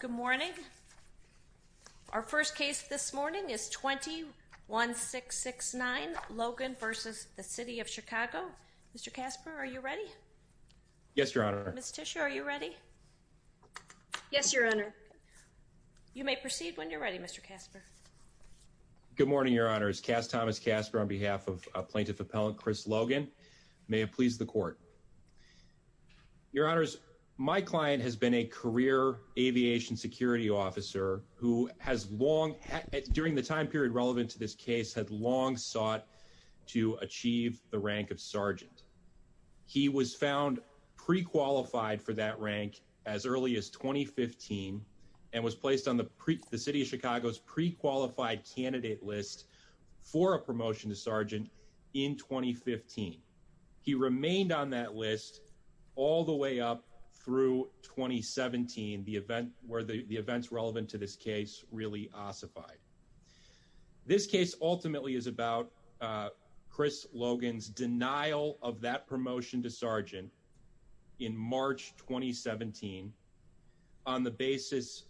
Good morning. Our first case this morning is 21669 Logan v. City of Chicago. Mr. Casper, are you ready? Yes, Your Honor. Ms. Tiscia, are you ready? Yes, Your Honor. You may proceed when you're ready, Mr. Casper. Good morning, Your Honors. Cass Thomas Casper on behalf of Plaintiff Appellant Chris Logan. May it please the Court. Your Honors, my client has been a career aviation security officer who has long, during the time period relevant to this case, had long sought to achieve the rank of sergeant. He was found pre-qualified for that rank as early as 2015 and was placed on the City of Chicago's pre-qualified candidate list for a promotion to sergeant in 2015. He remained on that list all the way up through 2017, where the events relevant to this case really ossified. This case ultimately is about Chris Logan's denial of that promotion to sergeant in March 2017 on the basis,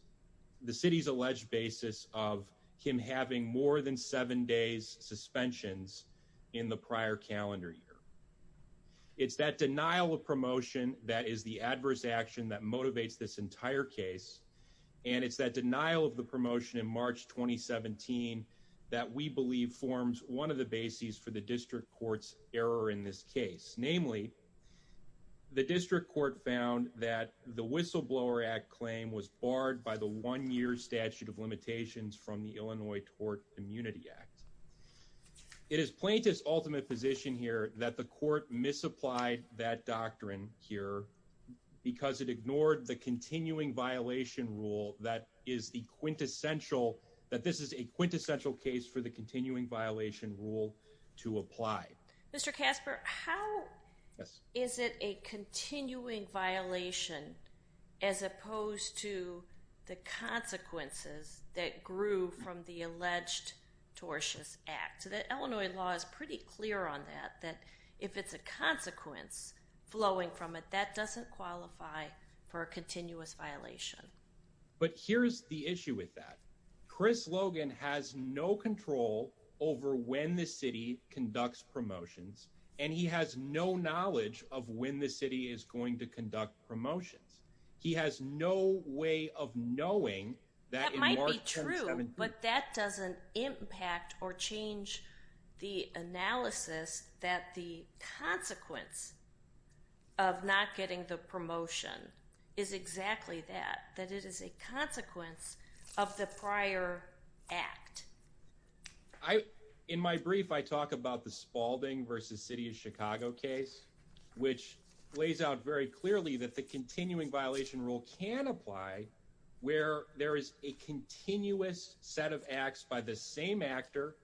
the City's alleged basis, of him having more than seven days suspensions in the prior calendar year. It's that denial of promotion that is the adverse action that motivates this entire case, and it's that denial of the promotion in March 2017 that we believe forms one of the bases for the District Court's error in this case. Namely, the District Court found that the Whistleblower Act claim was barred by the one-year statute of limitations from the Illinois Tort Immunity Act. It is plaintiff's ultimate position here that the court misapplied that doctrine here because it ignored the continuing violation rule that is the quintessential, that this is a quintessential case for the continuing violation rule to apply. Mr. Casper, how is it a continuing violation as opposed to the consequences that grew from the alleged tortious act? The Illinois law is pretty clear on that, that if it's a consequence flowing from it, that doesn't qualify for a continuous violation. But here's the issue with that. Chris Logan has no control over when the City conducts promotions, and he has no knowledge of when the City is going to conduct promotions. That might be true, but that doesn't impact or change the analysis that the consequence of not getting the promotion is exactly that, that it is a consequence of the prior act. In my brief, I talk about the Spaulding v. City of Chicago case, which lays out very clearly that the continuing violation rule can apply where there is a continuous set of acts by the same actor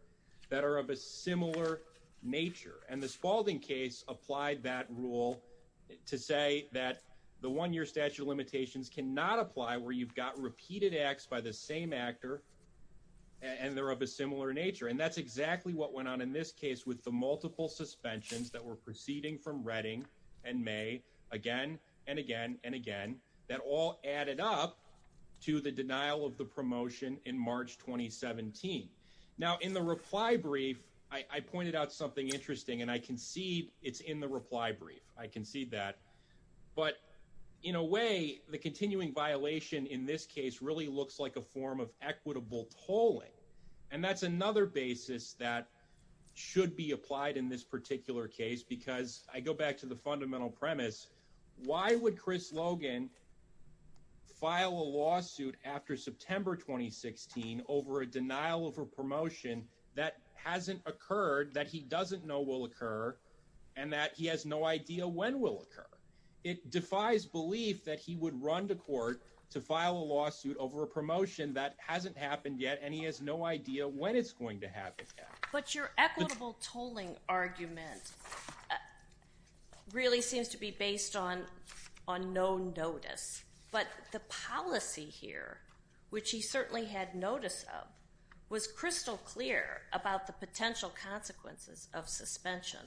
that are of a similar nature. And the Spaulding case applied that rule to say that the one-year statute of limitations cannot apply where you've got repeated acts by the same actor and they're of a similar nature. And that's exactly what went on in this case with the multiple suspensions that were proceeding from Redding and May, again and again and again, that all added up to the denial of the promotion in March 2017. Now, in the reply brief, I pointed out something interesting, and I concede it's in the reply brief. I concede that. But in a way, the continuing violation in this case really looks like a form of equitable tolling. And that's another basis that should be applied in this particular case, because I go back to the fundamental premise. Why would Chris Logan file a lawsuit after September 2016 over a denial of a promotion that hasn't occurred, that he doesn't know will occur, and that he has no idea when will occur? It defies belief that he would run to court to file a lawsuit over a promotion that hasn't happened yet, and he has no idea when it's going to happen. But your equitable tolling argument really seems to be based on no notice. But the policy here, which he certainly had notice of, was crystal clear about the potential consequences of suspension.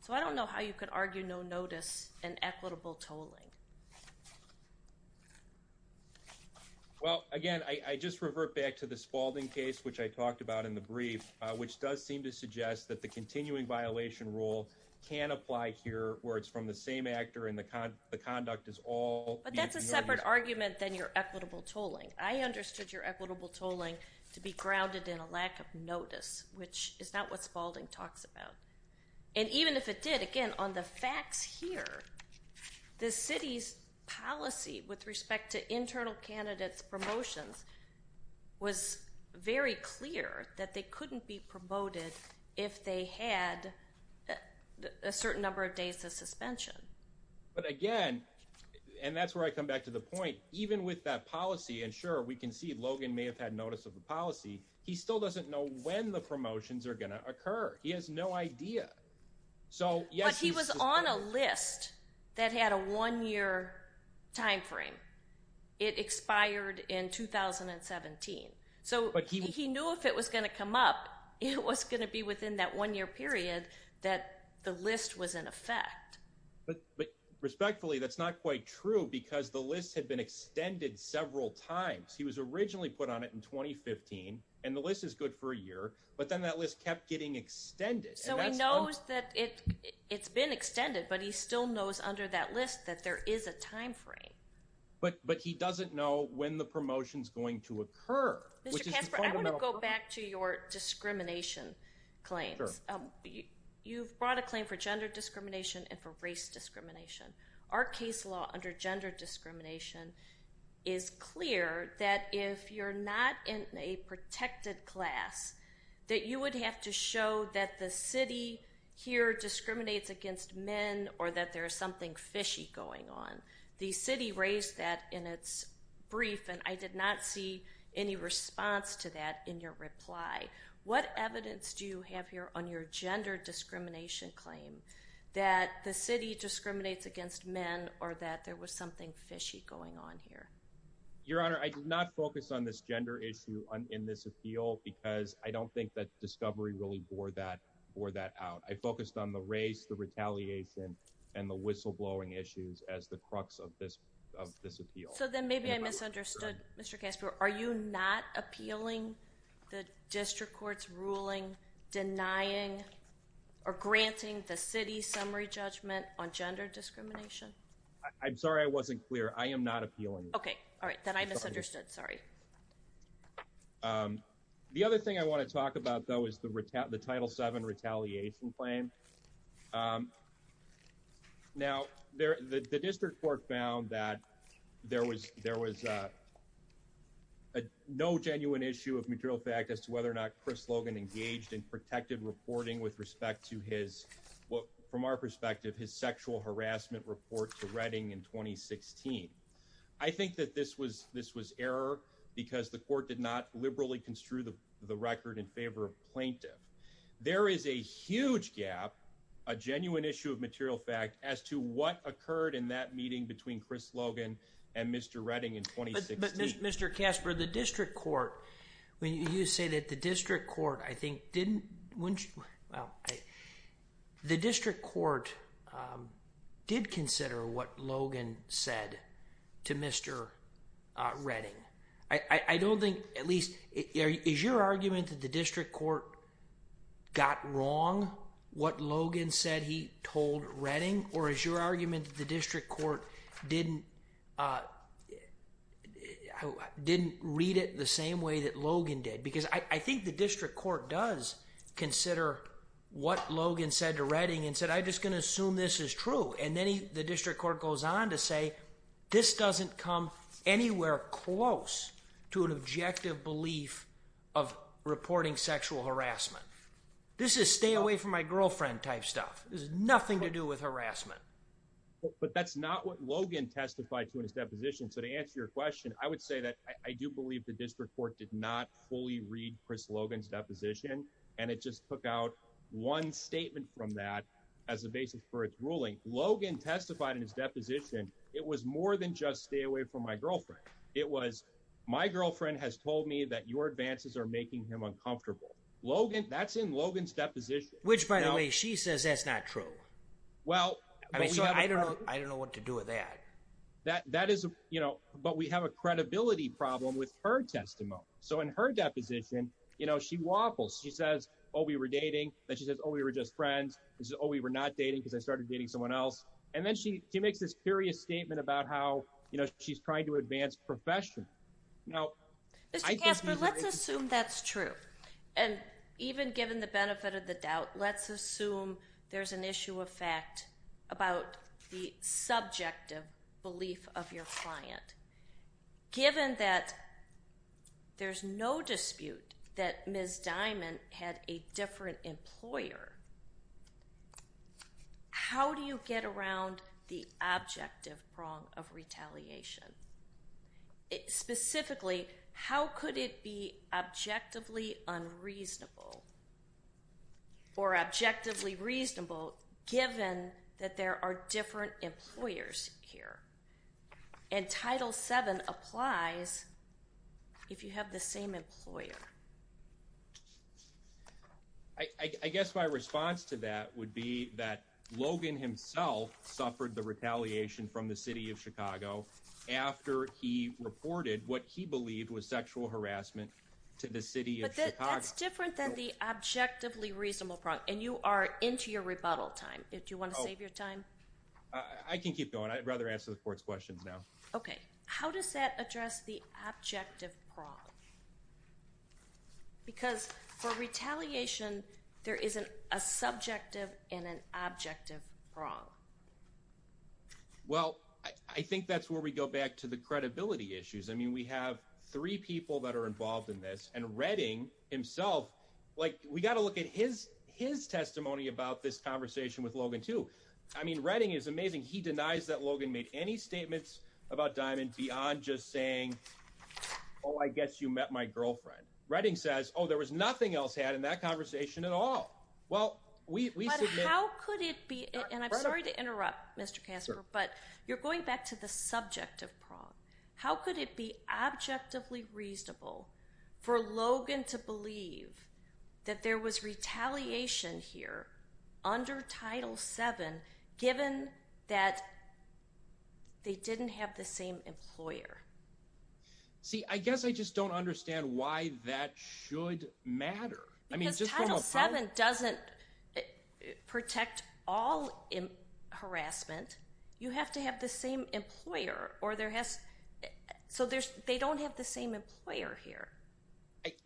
So I don't know how you could argue no notice and equitable tolling. Well, again, I just revert back to the Spaulding case, which I talked about in the brief, which does seem to suggest that the continuing violation rule can apply here, where it's from the same actor and the conduct is all… But that's a separate argument than your equitable tolling. I understood your equitable tolling to be grounded in a lack of notice, which is not what Spaulding talks about. And even if it did, again, on the facts here, the city's policy with respect to internal candidates' promotions was very clear that they couldn't be promoted if they had a certain number of days of suspension. But again, and that's where I come back to the point, even with that policy, and sure, we can see Logan may have had notice of the policy, he still doesn't know when the promotions are going to occur. He has no idea. But he was on a list that had a one-year time frame. It expired in 2017. So he knew if it was going to come up, it was going to be within that one-year period that the list was in effect. But respectfully, that's not quite true because the list had been extended several times. He was originally put on it in 2015, and the list is good for a year, but then that list kept getting extended. So he knows that it's been extended, but he still knows under that list that there is a time frame. But he doesn't know when the promotion's going to occur. Mr. Kasper, I want to go back to your discrimination claims. You've brought a claim for gender discrimination and for race discrimination. Our case law under gender discrimination is clear that if you're not in a protected class, that you would have to show that the city here discriminates against men or that there's something fishy going on. The city raised that in its brief, and I did not see any response to that in your reply. What evidence do you have here on your gender discrimination claim that the city discriminates against men or that there was something fishy going on here? Your Honor, I did not focus on this gender issue in this appeal because I don't think that discovery really bore that out. I focused on the race, the retaliation, and the whistleblowing issues as the crux of this appeal. So then maybe I misunderstood, Mr. Kasper. Are you not appealing the district court's ruling denying or granting the city's summary judgment on gender discrimination? I'm sorry I wasn't clear. I am not appealing. Okay. All right. Then I misunderstood. Sorry. The other thing I want to talk about, though, is the Title VII retaliation claim. Now, the district court found that there was no genuine issue of material fact as to whether or not Chris Logan engaged in protected reporting with respect to his, from our perspective, his sexual harassment report to Redding in 2016. I think that this was error because the court did not liberally construe the record in favor of plaintiff. There is a huge gap, a genuine issue of material fact, as to what occurred in that meeting between Chris Logan and Mr. Redding in 2016. But, Mr. Kasper, the district court, when you say that the district court, I think, didn't, well, the district court did consider what Logan said to Mr. Redding. I don't think, at least, is your argument that the district court got wrong what Logan said he told Redding, or is your argument that the district court didn't read it the same way that Logan did? Because I think the district court does consider what Logan said to Redding and said, I'm just going to assume this is true. And then the district court goes on to say, this doesn't come anywhere close to an objective belief of reporting sexual harassment. This is stay away from my girlfriend type stuff. This has nothing to do with harassment. But that's not what Logan testified to in his deposition. So to answer your question, I would say that I do believe the district court did not fully read Chris Logan's deposition. And it just took out one statement from that as a basis for its ruling. Logan testified in his deposition, it was more than just stay away from my girlfriend. It was, my girlfriend has told me that your advances are making him uncomfortable. Logan, that's in Logan's deposition. Which, by the way, she says that's not true. I mean, so I don't know what to do with that. But we have a credibility problem with her testimony. So in her deposition, she waffles. She says, oh, we were dating. Then she says, oh, we were just friends. She says, oh, we were not dating because I started dating someone else. And then she makes this curious statement about how she's trying to advance profession. Mr. Kasper, let's assume that's true. And even given the benefit of the doubt, let's assume there's an issue of fact about the subjective belief of your client. Given that there's no dispute that Ms. Diamond had a different employer, how do you get around the objective prong of retaliation? Specifically, how could it be objectively unreasonable or objectively reasonable given that there are different employers here? And Title VII applies if you have the same employer. I guess my response to that would be that Logan himself suffered the retaliation from the city of Chicago after he reported what he believed was sexual harassment to the city of Chicago. But that's different than the objectively reasonable prong. And you are into your rebuttal time. Do you want to save your time? I can keep going. I'd rather answer the court's questions now. Okay. How does that address the objective prong? Because for retaliation, there is a subjective and an objective prong. Well, I think that's where we go back to the credibility issues. I mean, we have three people that are involved in this. And Redding himself, like, we got to look at his testimony about this conversation with Logan, too. I mean, Redding is amazing. He denies that Logan made any statements about Diamond beyond just saying, oh, I guess you met my girlfriend. Redding says, oh, there was nothing else had in that conversation at all. But how could it be, and I'm sorry to interrupt, Mr. Kasper, but you're going back to the subjective prong. How could it be objectively reasonable for Logan to believe that there was retaliation here under Title VII given that they didn't have the same employer? See, I guess I just don't understand why that should matter. Because Title VII doesn't protect all harassment. You have to have the same employer, so they don't have the same employer here.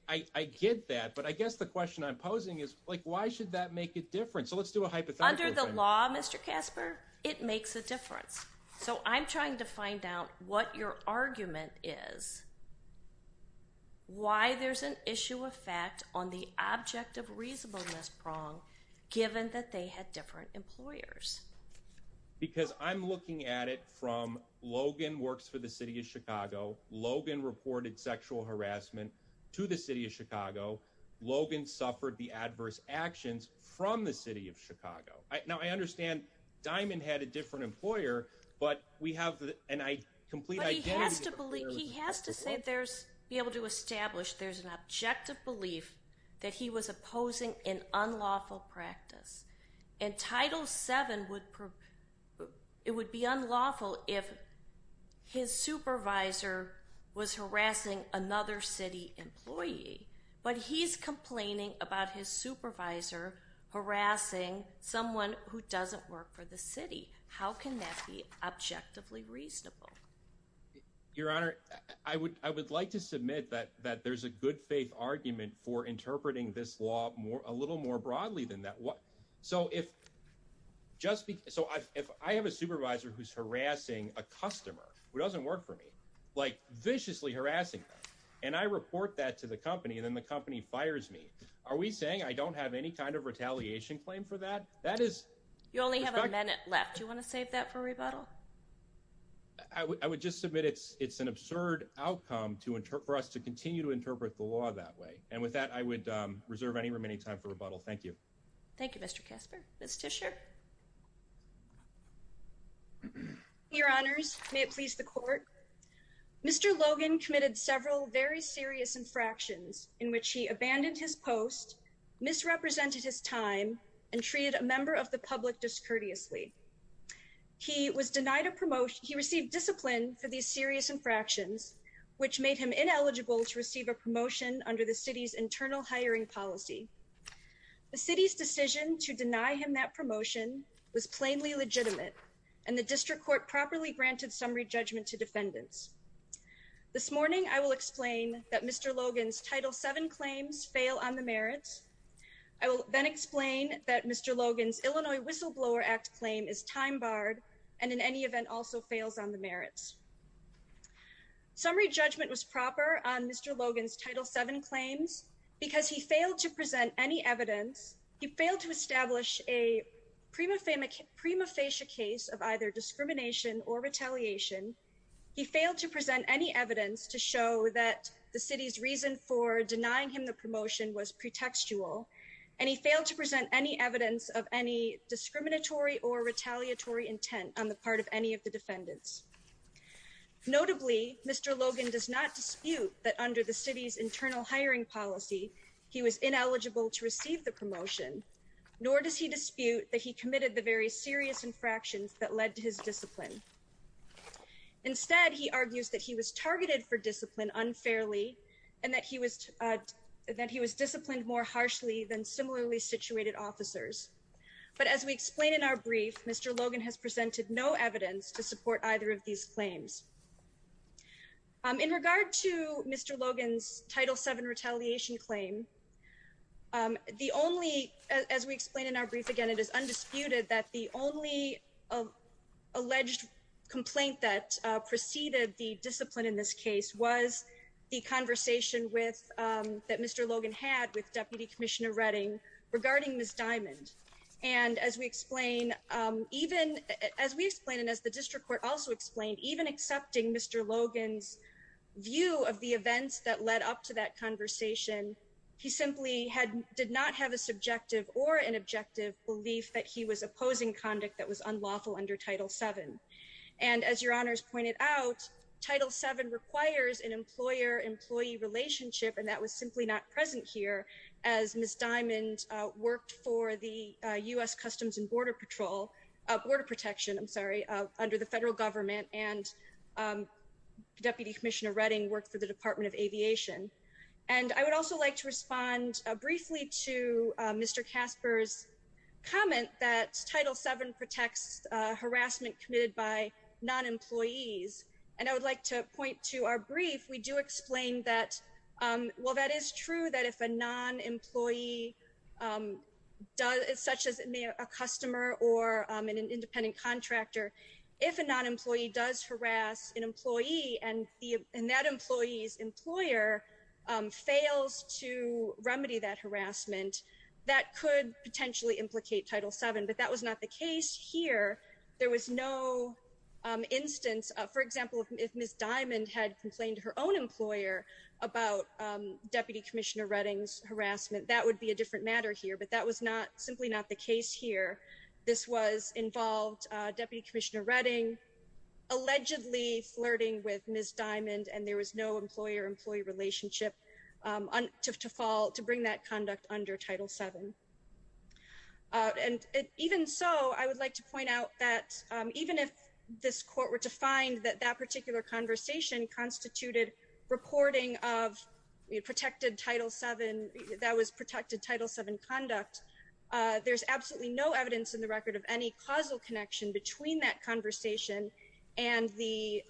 I get that, but I guess the question I'm posing is, like, why should that make a difference? So let's do a hypothetical thing. Why is the objective reasonableness prong given that they had different employers? Because I'm looking at it from Logan works for the city of Chicago. Logan reported sexual harassment to the city of Chicago. Logan suffered the adverse actions from the city of Chicago. Now, I understand Diamond had a different employer, but we have a complete identity. He has to be able to establish there's an objective belief that he was opposing an unlawful practice. And Title VII would be unlawful if his supervisor was harassing another city employee. But he's complaining about his supervisor harassing someone who doesn't work for the city. How can that be objectively reasonable? Your Honor, I would like to submit that there's a good faith argument for interpreting this law a little more broadly than that. So if I have a supervisor who's harassing a customer who doesn't work for me, like viciously harassing them, and I report that to the company, then the company fires me. Are we saying I don't have any kind of retaliation claim for that? You only have a minute left. Do you want to save that for rebuttal? I would just submit it's an absurd outcome for us to continue to interpret the law that way. And with that, I would reserve any remaining time for rebuttal. Thank you. Thank you, Mr. Casper. Ms. Tischer? Your Honors, may it please the Court. Mr. Logan committed several very serious infractions in which he abandoned his post, misrepresented his time, and treated a member of the public discourteously. He received discipline for these serious infractions, which made him ineligible to receive a promotion under the City's internal hiring policy. The City's decision to deny him that promotion was plainly legitimate, and the District Court properly granted summary judgment to defendants. This morning, I will explain that Mr. Logan's Title VII claims fail on the merits. I will then explain that Mr. Logan's Illinois Whistleblower Act claim is time barred, and in any event also fails on the merits. Summary judgment was proper on Mr. Logan's Title VII claims because he failed to present any evidence, he failed to establish a prima facie case of either discrimination or retaliation, he failed to present any evidence to show that the City's reason for denying him the promotion was pretextual, and he failed to present any evidence of any discriminatory or retaliatory intent on the part of any of the defendants. Notably, Mr. Logan does not dispute that under the City's internal hiring policy, he was ineligible to receive the promotion, nor does he dispute that he committed the very serious infractions that led to his discipline. Instead, he argues that he was targeted for discipline unfairly, and that he was disciplined more harshly than similarly situated officers. But as we explain in our brief, Mr. Logan has presented no evidence to support either of these claims. In regard to Mr. Logan's Title VII retaliation claim, as we explain in our brief again, it is undisputed that the only alleged complaint that preceded the discipline in this case was the conversation that Mr. Logan had with Deputy Commissioner Redding regarding Ms. Diamond. And as we explain, and as the District Court also explained, even accepting Mr. Logan's view of the events that led up to that conversation, he simply did not have a subjective or an objective belief that he was opposing conduct that was unlawful under Title VII. And as Your Honors pointed out, Title VII requires an employer-employee relationship, and that was simply not present here as Ms. Diamond worked for the U.S. Customs and Border Patrol, Border Protection, I'm sorry, under the federal government, and Deputy Commissioner Redding worked for the Department of Aviation. And I would also like to respond briefly to Mr. Casper's comment that Title VII protects harassment committed by non-employees. And I would like to point to our brief. We do explain that, well, that is true that if a non-employee, such as a customer or an independent contractor, if a non-employee does harass an employee and that employee's employer fails to remedy that harassment, that could potentially implicate Title VII, but that was not the case here. There was no instance, for example, if Ms. Diamond had complained to her own employer about Deputy Commissioner Redding's harassment, that would be a different matter here, but that was simply not the case here. This was involved Deputy Commissioner Redding allegedly flirting with Ms. Diamond, and there was no employer-employee relationship to bring that conduct under Title VII. And even so, I would like to point out that even if this Court were to find that that particular conversation constituted reporting of protected Title VII, that was protected Title VII conduct, there's absolutely no evidence in the record of any causal connection between that conversation and the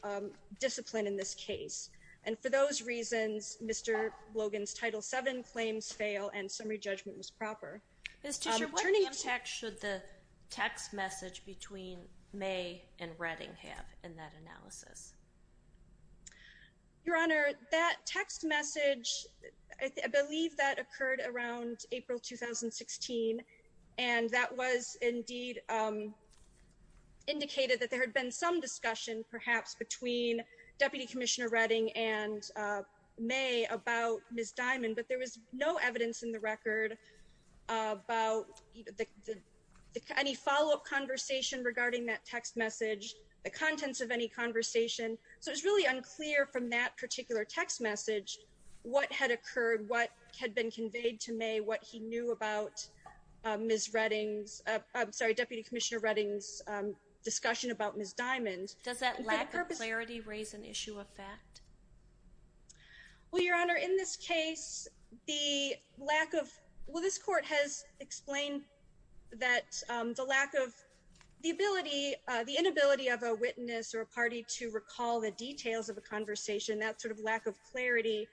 discipline in this case. And for those reasons, Mr. Logan's Title VII claims fail and summary judgment was proper. Ms. Tischer, what impact should the text message between May and Redding have in that analysis? Your Honor, that text message, I believe that occurred around April 2016, and that was indeed indicated that there had been some discussion, perhaps, between Deputy Commissioner Redding and May about Ms. Diamond, but there was no evidence in the record about any follow-up conversation regarding that text message, the contents of any conversation, so it was really unclear from that particular text message what had occurred, what had been conveyed to May, what he knew about Ms. Redding's, I'm sorry, Deputy Commissioner Redding's discussion about Ms. Diamond. Does that lack of clarity raise an issue of fact? Well, Your Honor, in this case, the lack of, well, this Court has explained that the lack of, the inability of a witness or a party to recall the details of a conversation, that sort of lack of clarity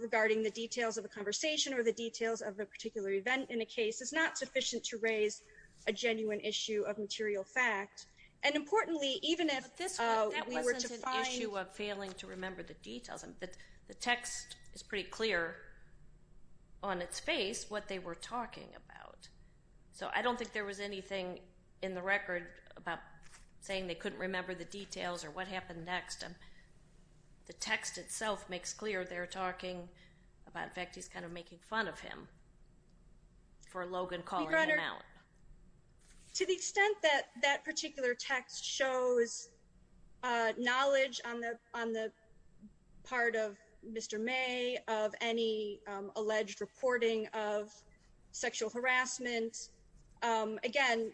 regarding the details of a conversation or the details of a particular event in a case is not sufficient to raise a genuine issue of material fact, and importantly, even if we were to find... But this wasn't an issue of failing to remember the details. The text is pretty clear on its face what they were talking about, so I don't think there was anything in the record about saying they couldn't remember the details or what happened next. The text itself makes clear they're talking about, in fact, he's kind of making fun of him for Logan calling him out. Your Honor, to the extent that that particular text shows knowledge on the part of Mr. May, of any alleged reporting of sexual harassment, again,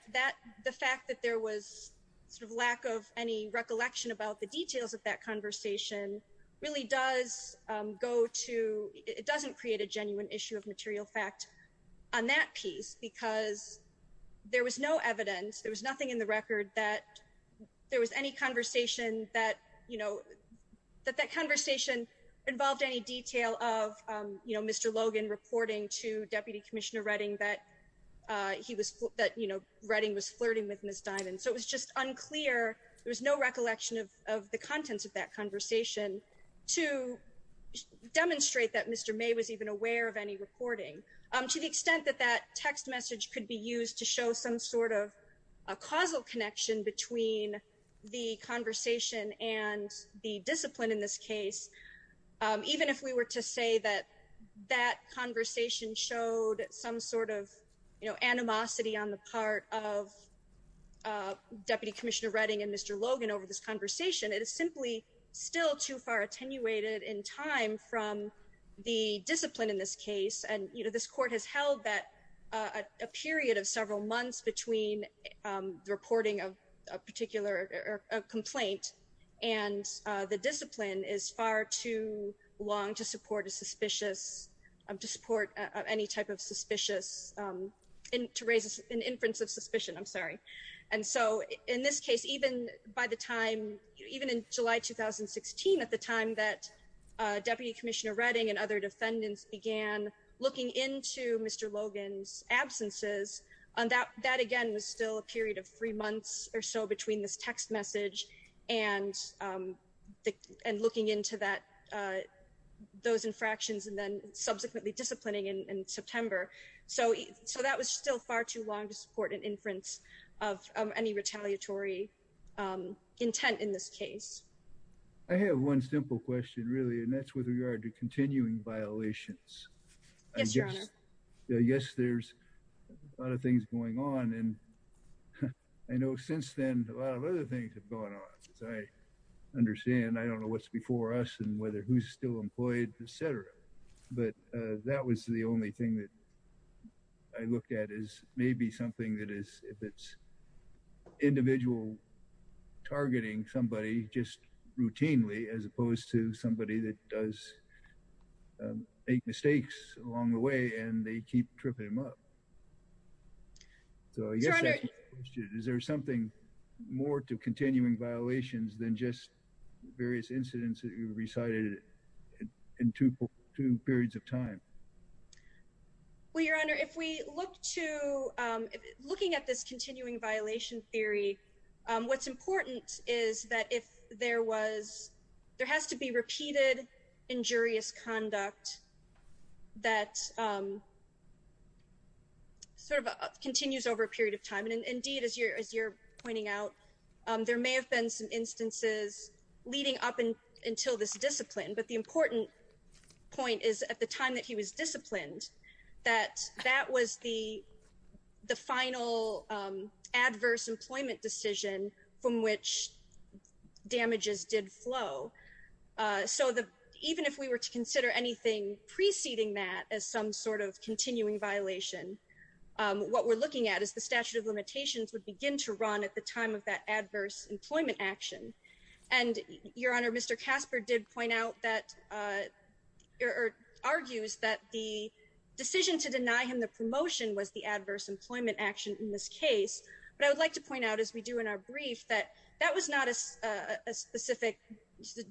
the fact that there was sort of lack of any recollection about the details of that conversation really does go to, it doesn't create a genuine issue of material fact on that piece because there was no evidence, there was nothing in the record that there was any conversation that, that that conversation involved any detail of Mr. Logan reporting to Deputy Commissioner Redding that he was, that, you know, Redding was flirting with Ms. Dimon. So it was just unclear, there was no recollection of the contents of that conversation to demonstrate that Mr. May was even aware of any reporting. To the extent that that text message could be used to show some sort of a causal connection between the conversation and the discipline in this case, even if we were to say that that conversation showed some sort of, you know, animosity on the part of Deputy Commissioner Redding and Mr. Logan over this conversation, it is simply still too far attenuated in time from the discipline in this case. And, you know, this court has held that a period of several months between the reporting of a particular complaint and the discipline is far too long to support a suspicious, to support any type of suspicious, to raise an inference of suspicion, I'm sorry. And so in this case, even by the time, even in July 2016, at the time that Deputy Commissioner Redding and other defendants began looking into Mr. Logan's absences, that again was still a period of three months or so between this text message and looking into that, those infractions and then subsequently disciplining in September. So that was still far too long to support an inference of any retaliatory intent in this case. I have one simple question really, and that's with regard to continuing violations. Yes, Your Honor. Yes, there's a lot of things going on. And I know since then, a lot of other things have gone on. As I understand, I don't know what's before us and whether who's still employed, et cetera. But that was the only thing that I looked at is maybe something that is, if it's individual targeting somebody just routinely, as opposed to somebody that does make mistakes along the way and they keep tripping them up. So I guess my question is, is there something more to continuing violations than just various incidents that you recited in two periods of time? Well, Your Honor, if we look to, looking at this continuing violation theory, what's important is that if there was, there has to be repeated injurious conduct that sort of continues over a period of time. And indeed, as you're pointing out, there may have been some instances leading up until this discipline. But the important point is at the time that he was disciplined, that that was the final adverse employment decision from which damages did flow. So even if we were to consider anything preceding that as some sort of continuing violation, what we're looking at is the statute of limitations would begin to run at the time of that adverse employment action. And Your Honor, Mr. Casper did point out that, or argues that the decision to deny him the promotion was the adverse employment action in this case. But I would like to point out, as we do in our brief, that that was not a specific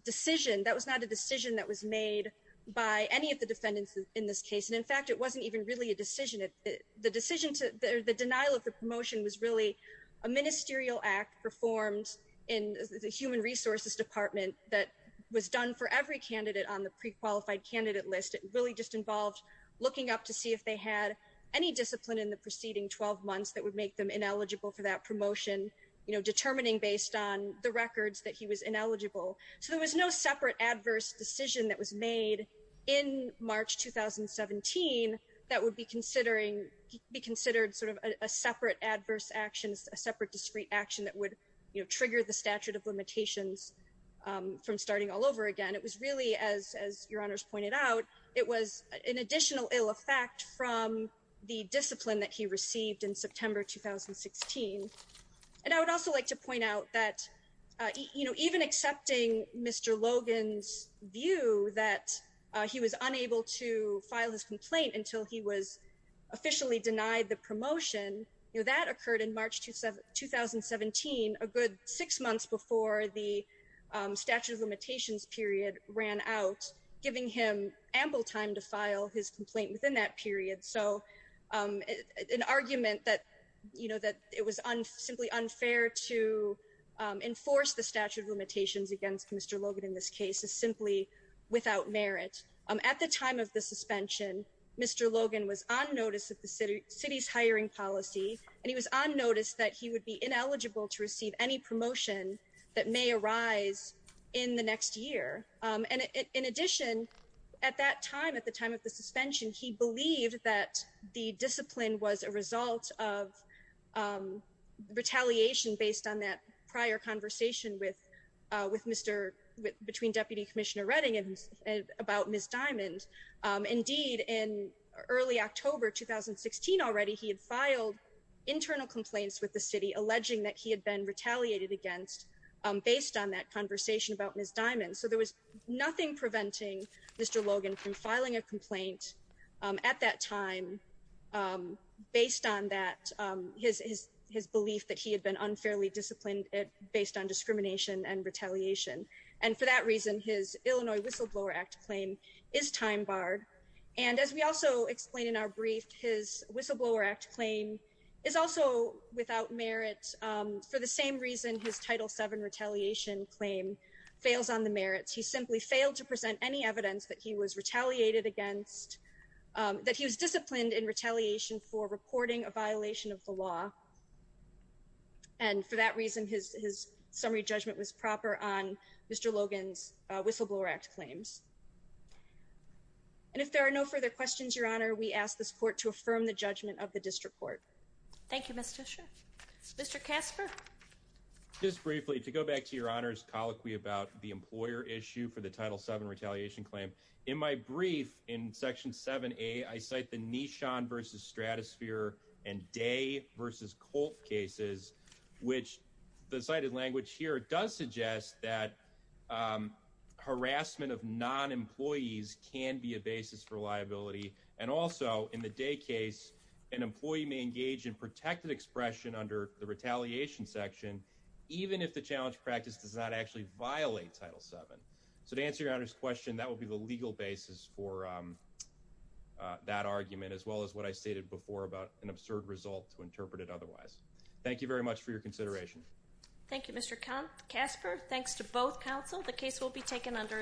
decision. That was not a decision that was made by any of the defendants in this case. And in fact, it wasn't even really a decision. The decision to, the denial of the promotion was really a ministerial act performed in the Human Resources Department that was done for every candidate on the pre-qualified candidate list. It really just involved looking up to see if they had any discipline in the preceding 12 months that would make them ineligible for that promotion, determining based on the records that he was ineligible. So there was no separate adverse decision that was made in March 2017 that would be considered sort of a separate adverse action, a separate discrete action that would trigger the statute of limitations from starting all over again. It was really, as Your Honors pointed out, it was an additional ill effect from the discipline that he received in September 2016. And I would also like to point out that, you know, even accepting Mr. Logan's view that he was unable to file his complaint until he was officially denied the promotion, that occurred in March 2017, a good six months before the statute of limitations period ran out, was giving him ample time to file his complaint within that period. So an argument that, you know, that it was simply unfair to enforce the statute of limitations against Mr. Logan in this case is simply without merit. At the time of the suspension, Mr. Logan was on notice of the city's hiring policy, and he was on notice that he would be ineligible to receive any promotion that may arise in the next year. And in addition, at that time, at the time of the suspension, he believed that the discipline was a result of retaliation based on that prior conversation with Mr., between Deputy Commissioner Redding and about Ms. Diamond. Indeed, in early October 2016 already, he had filed internal complaints with the city alleging that he had been retaliated against based on that conversation about Ms. Diamond. There was nothing preventing Mr. Logan from filing a complaint at that time based on that, his belief that he had been unfairly disciplined based on discrimination and retaliation. And for that reason, his Illinois Whistleblower Act claim is time barred. And as we also explain in our brief, his Whistleblower Act claim is also without merit for the same reason his Title VII retaliation claim fails on the merits. He simply failed to present any evidence that he was retaliated against, that he was disciplined in retaliation for reporting a violation of the law. And for that reason, his summary judgment was proper on Mr. Logan's Whistleblower Act claims. And if there are no further questions, Your Honor, we ask this court to affirm the judgment of the district court. Thank you, Ms. Tisha. Mr. Casper. Just briefly, to go back to Your Honor's colloquy about the employer issue for the Title VII retaliation claim, in my brief in Section 7A, I cite the Nishan v. Stratosphere and Day v. Culp cases, which the cited language here does suggest that harassment of non-employees can be a basis for liability. And also, in the Day case, an employee may engage in protected expression under the retaliation section, even if the challenge practice does not actually violate Title VII. So to answer Your Honor's question, that would be the legal basis for that argument, as well as what I stated before about an absurd result to interpret it otherwise. Thank you very much for your consideration. Thank you, Mr. Casper. Thanks to both counsel. The case will be taken under advisement.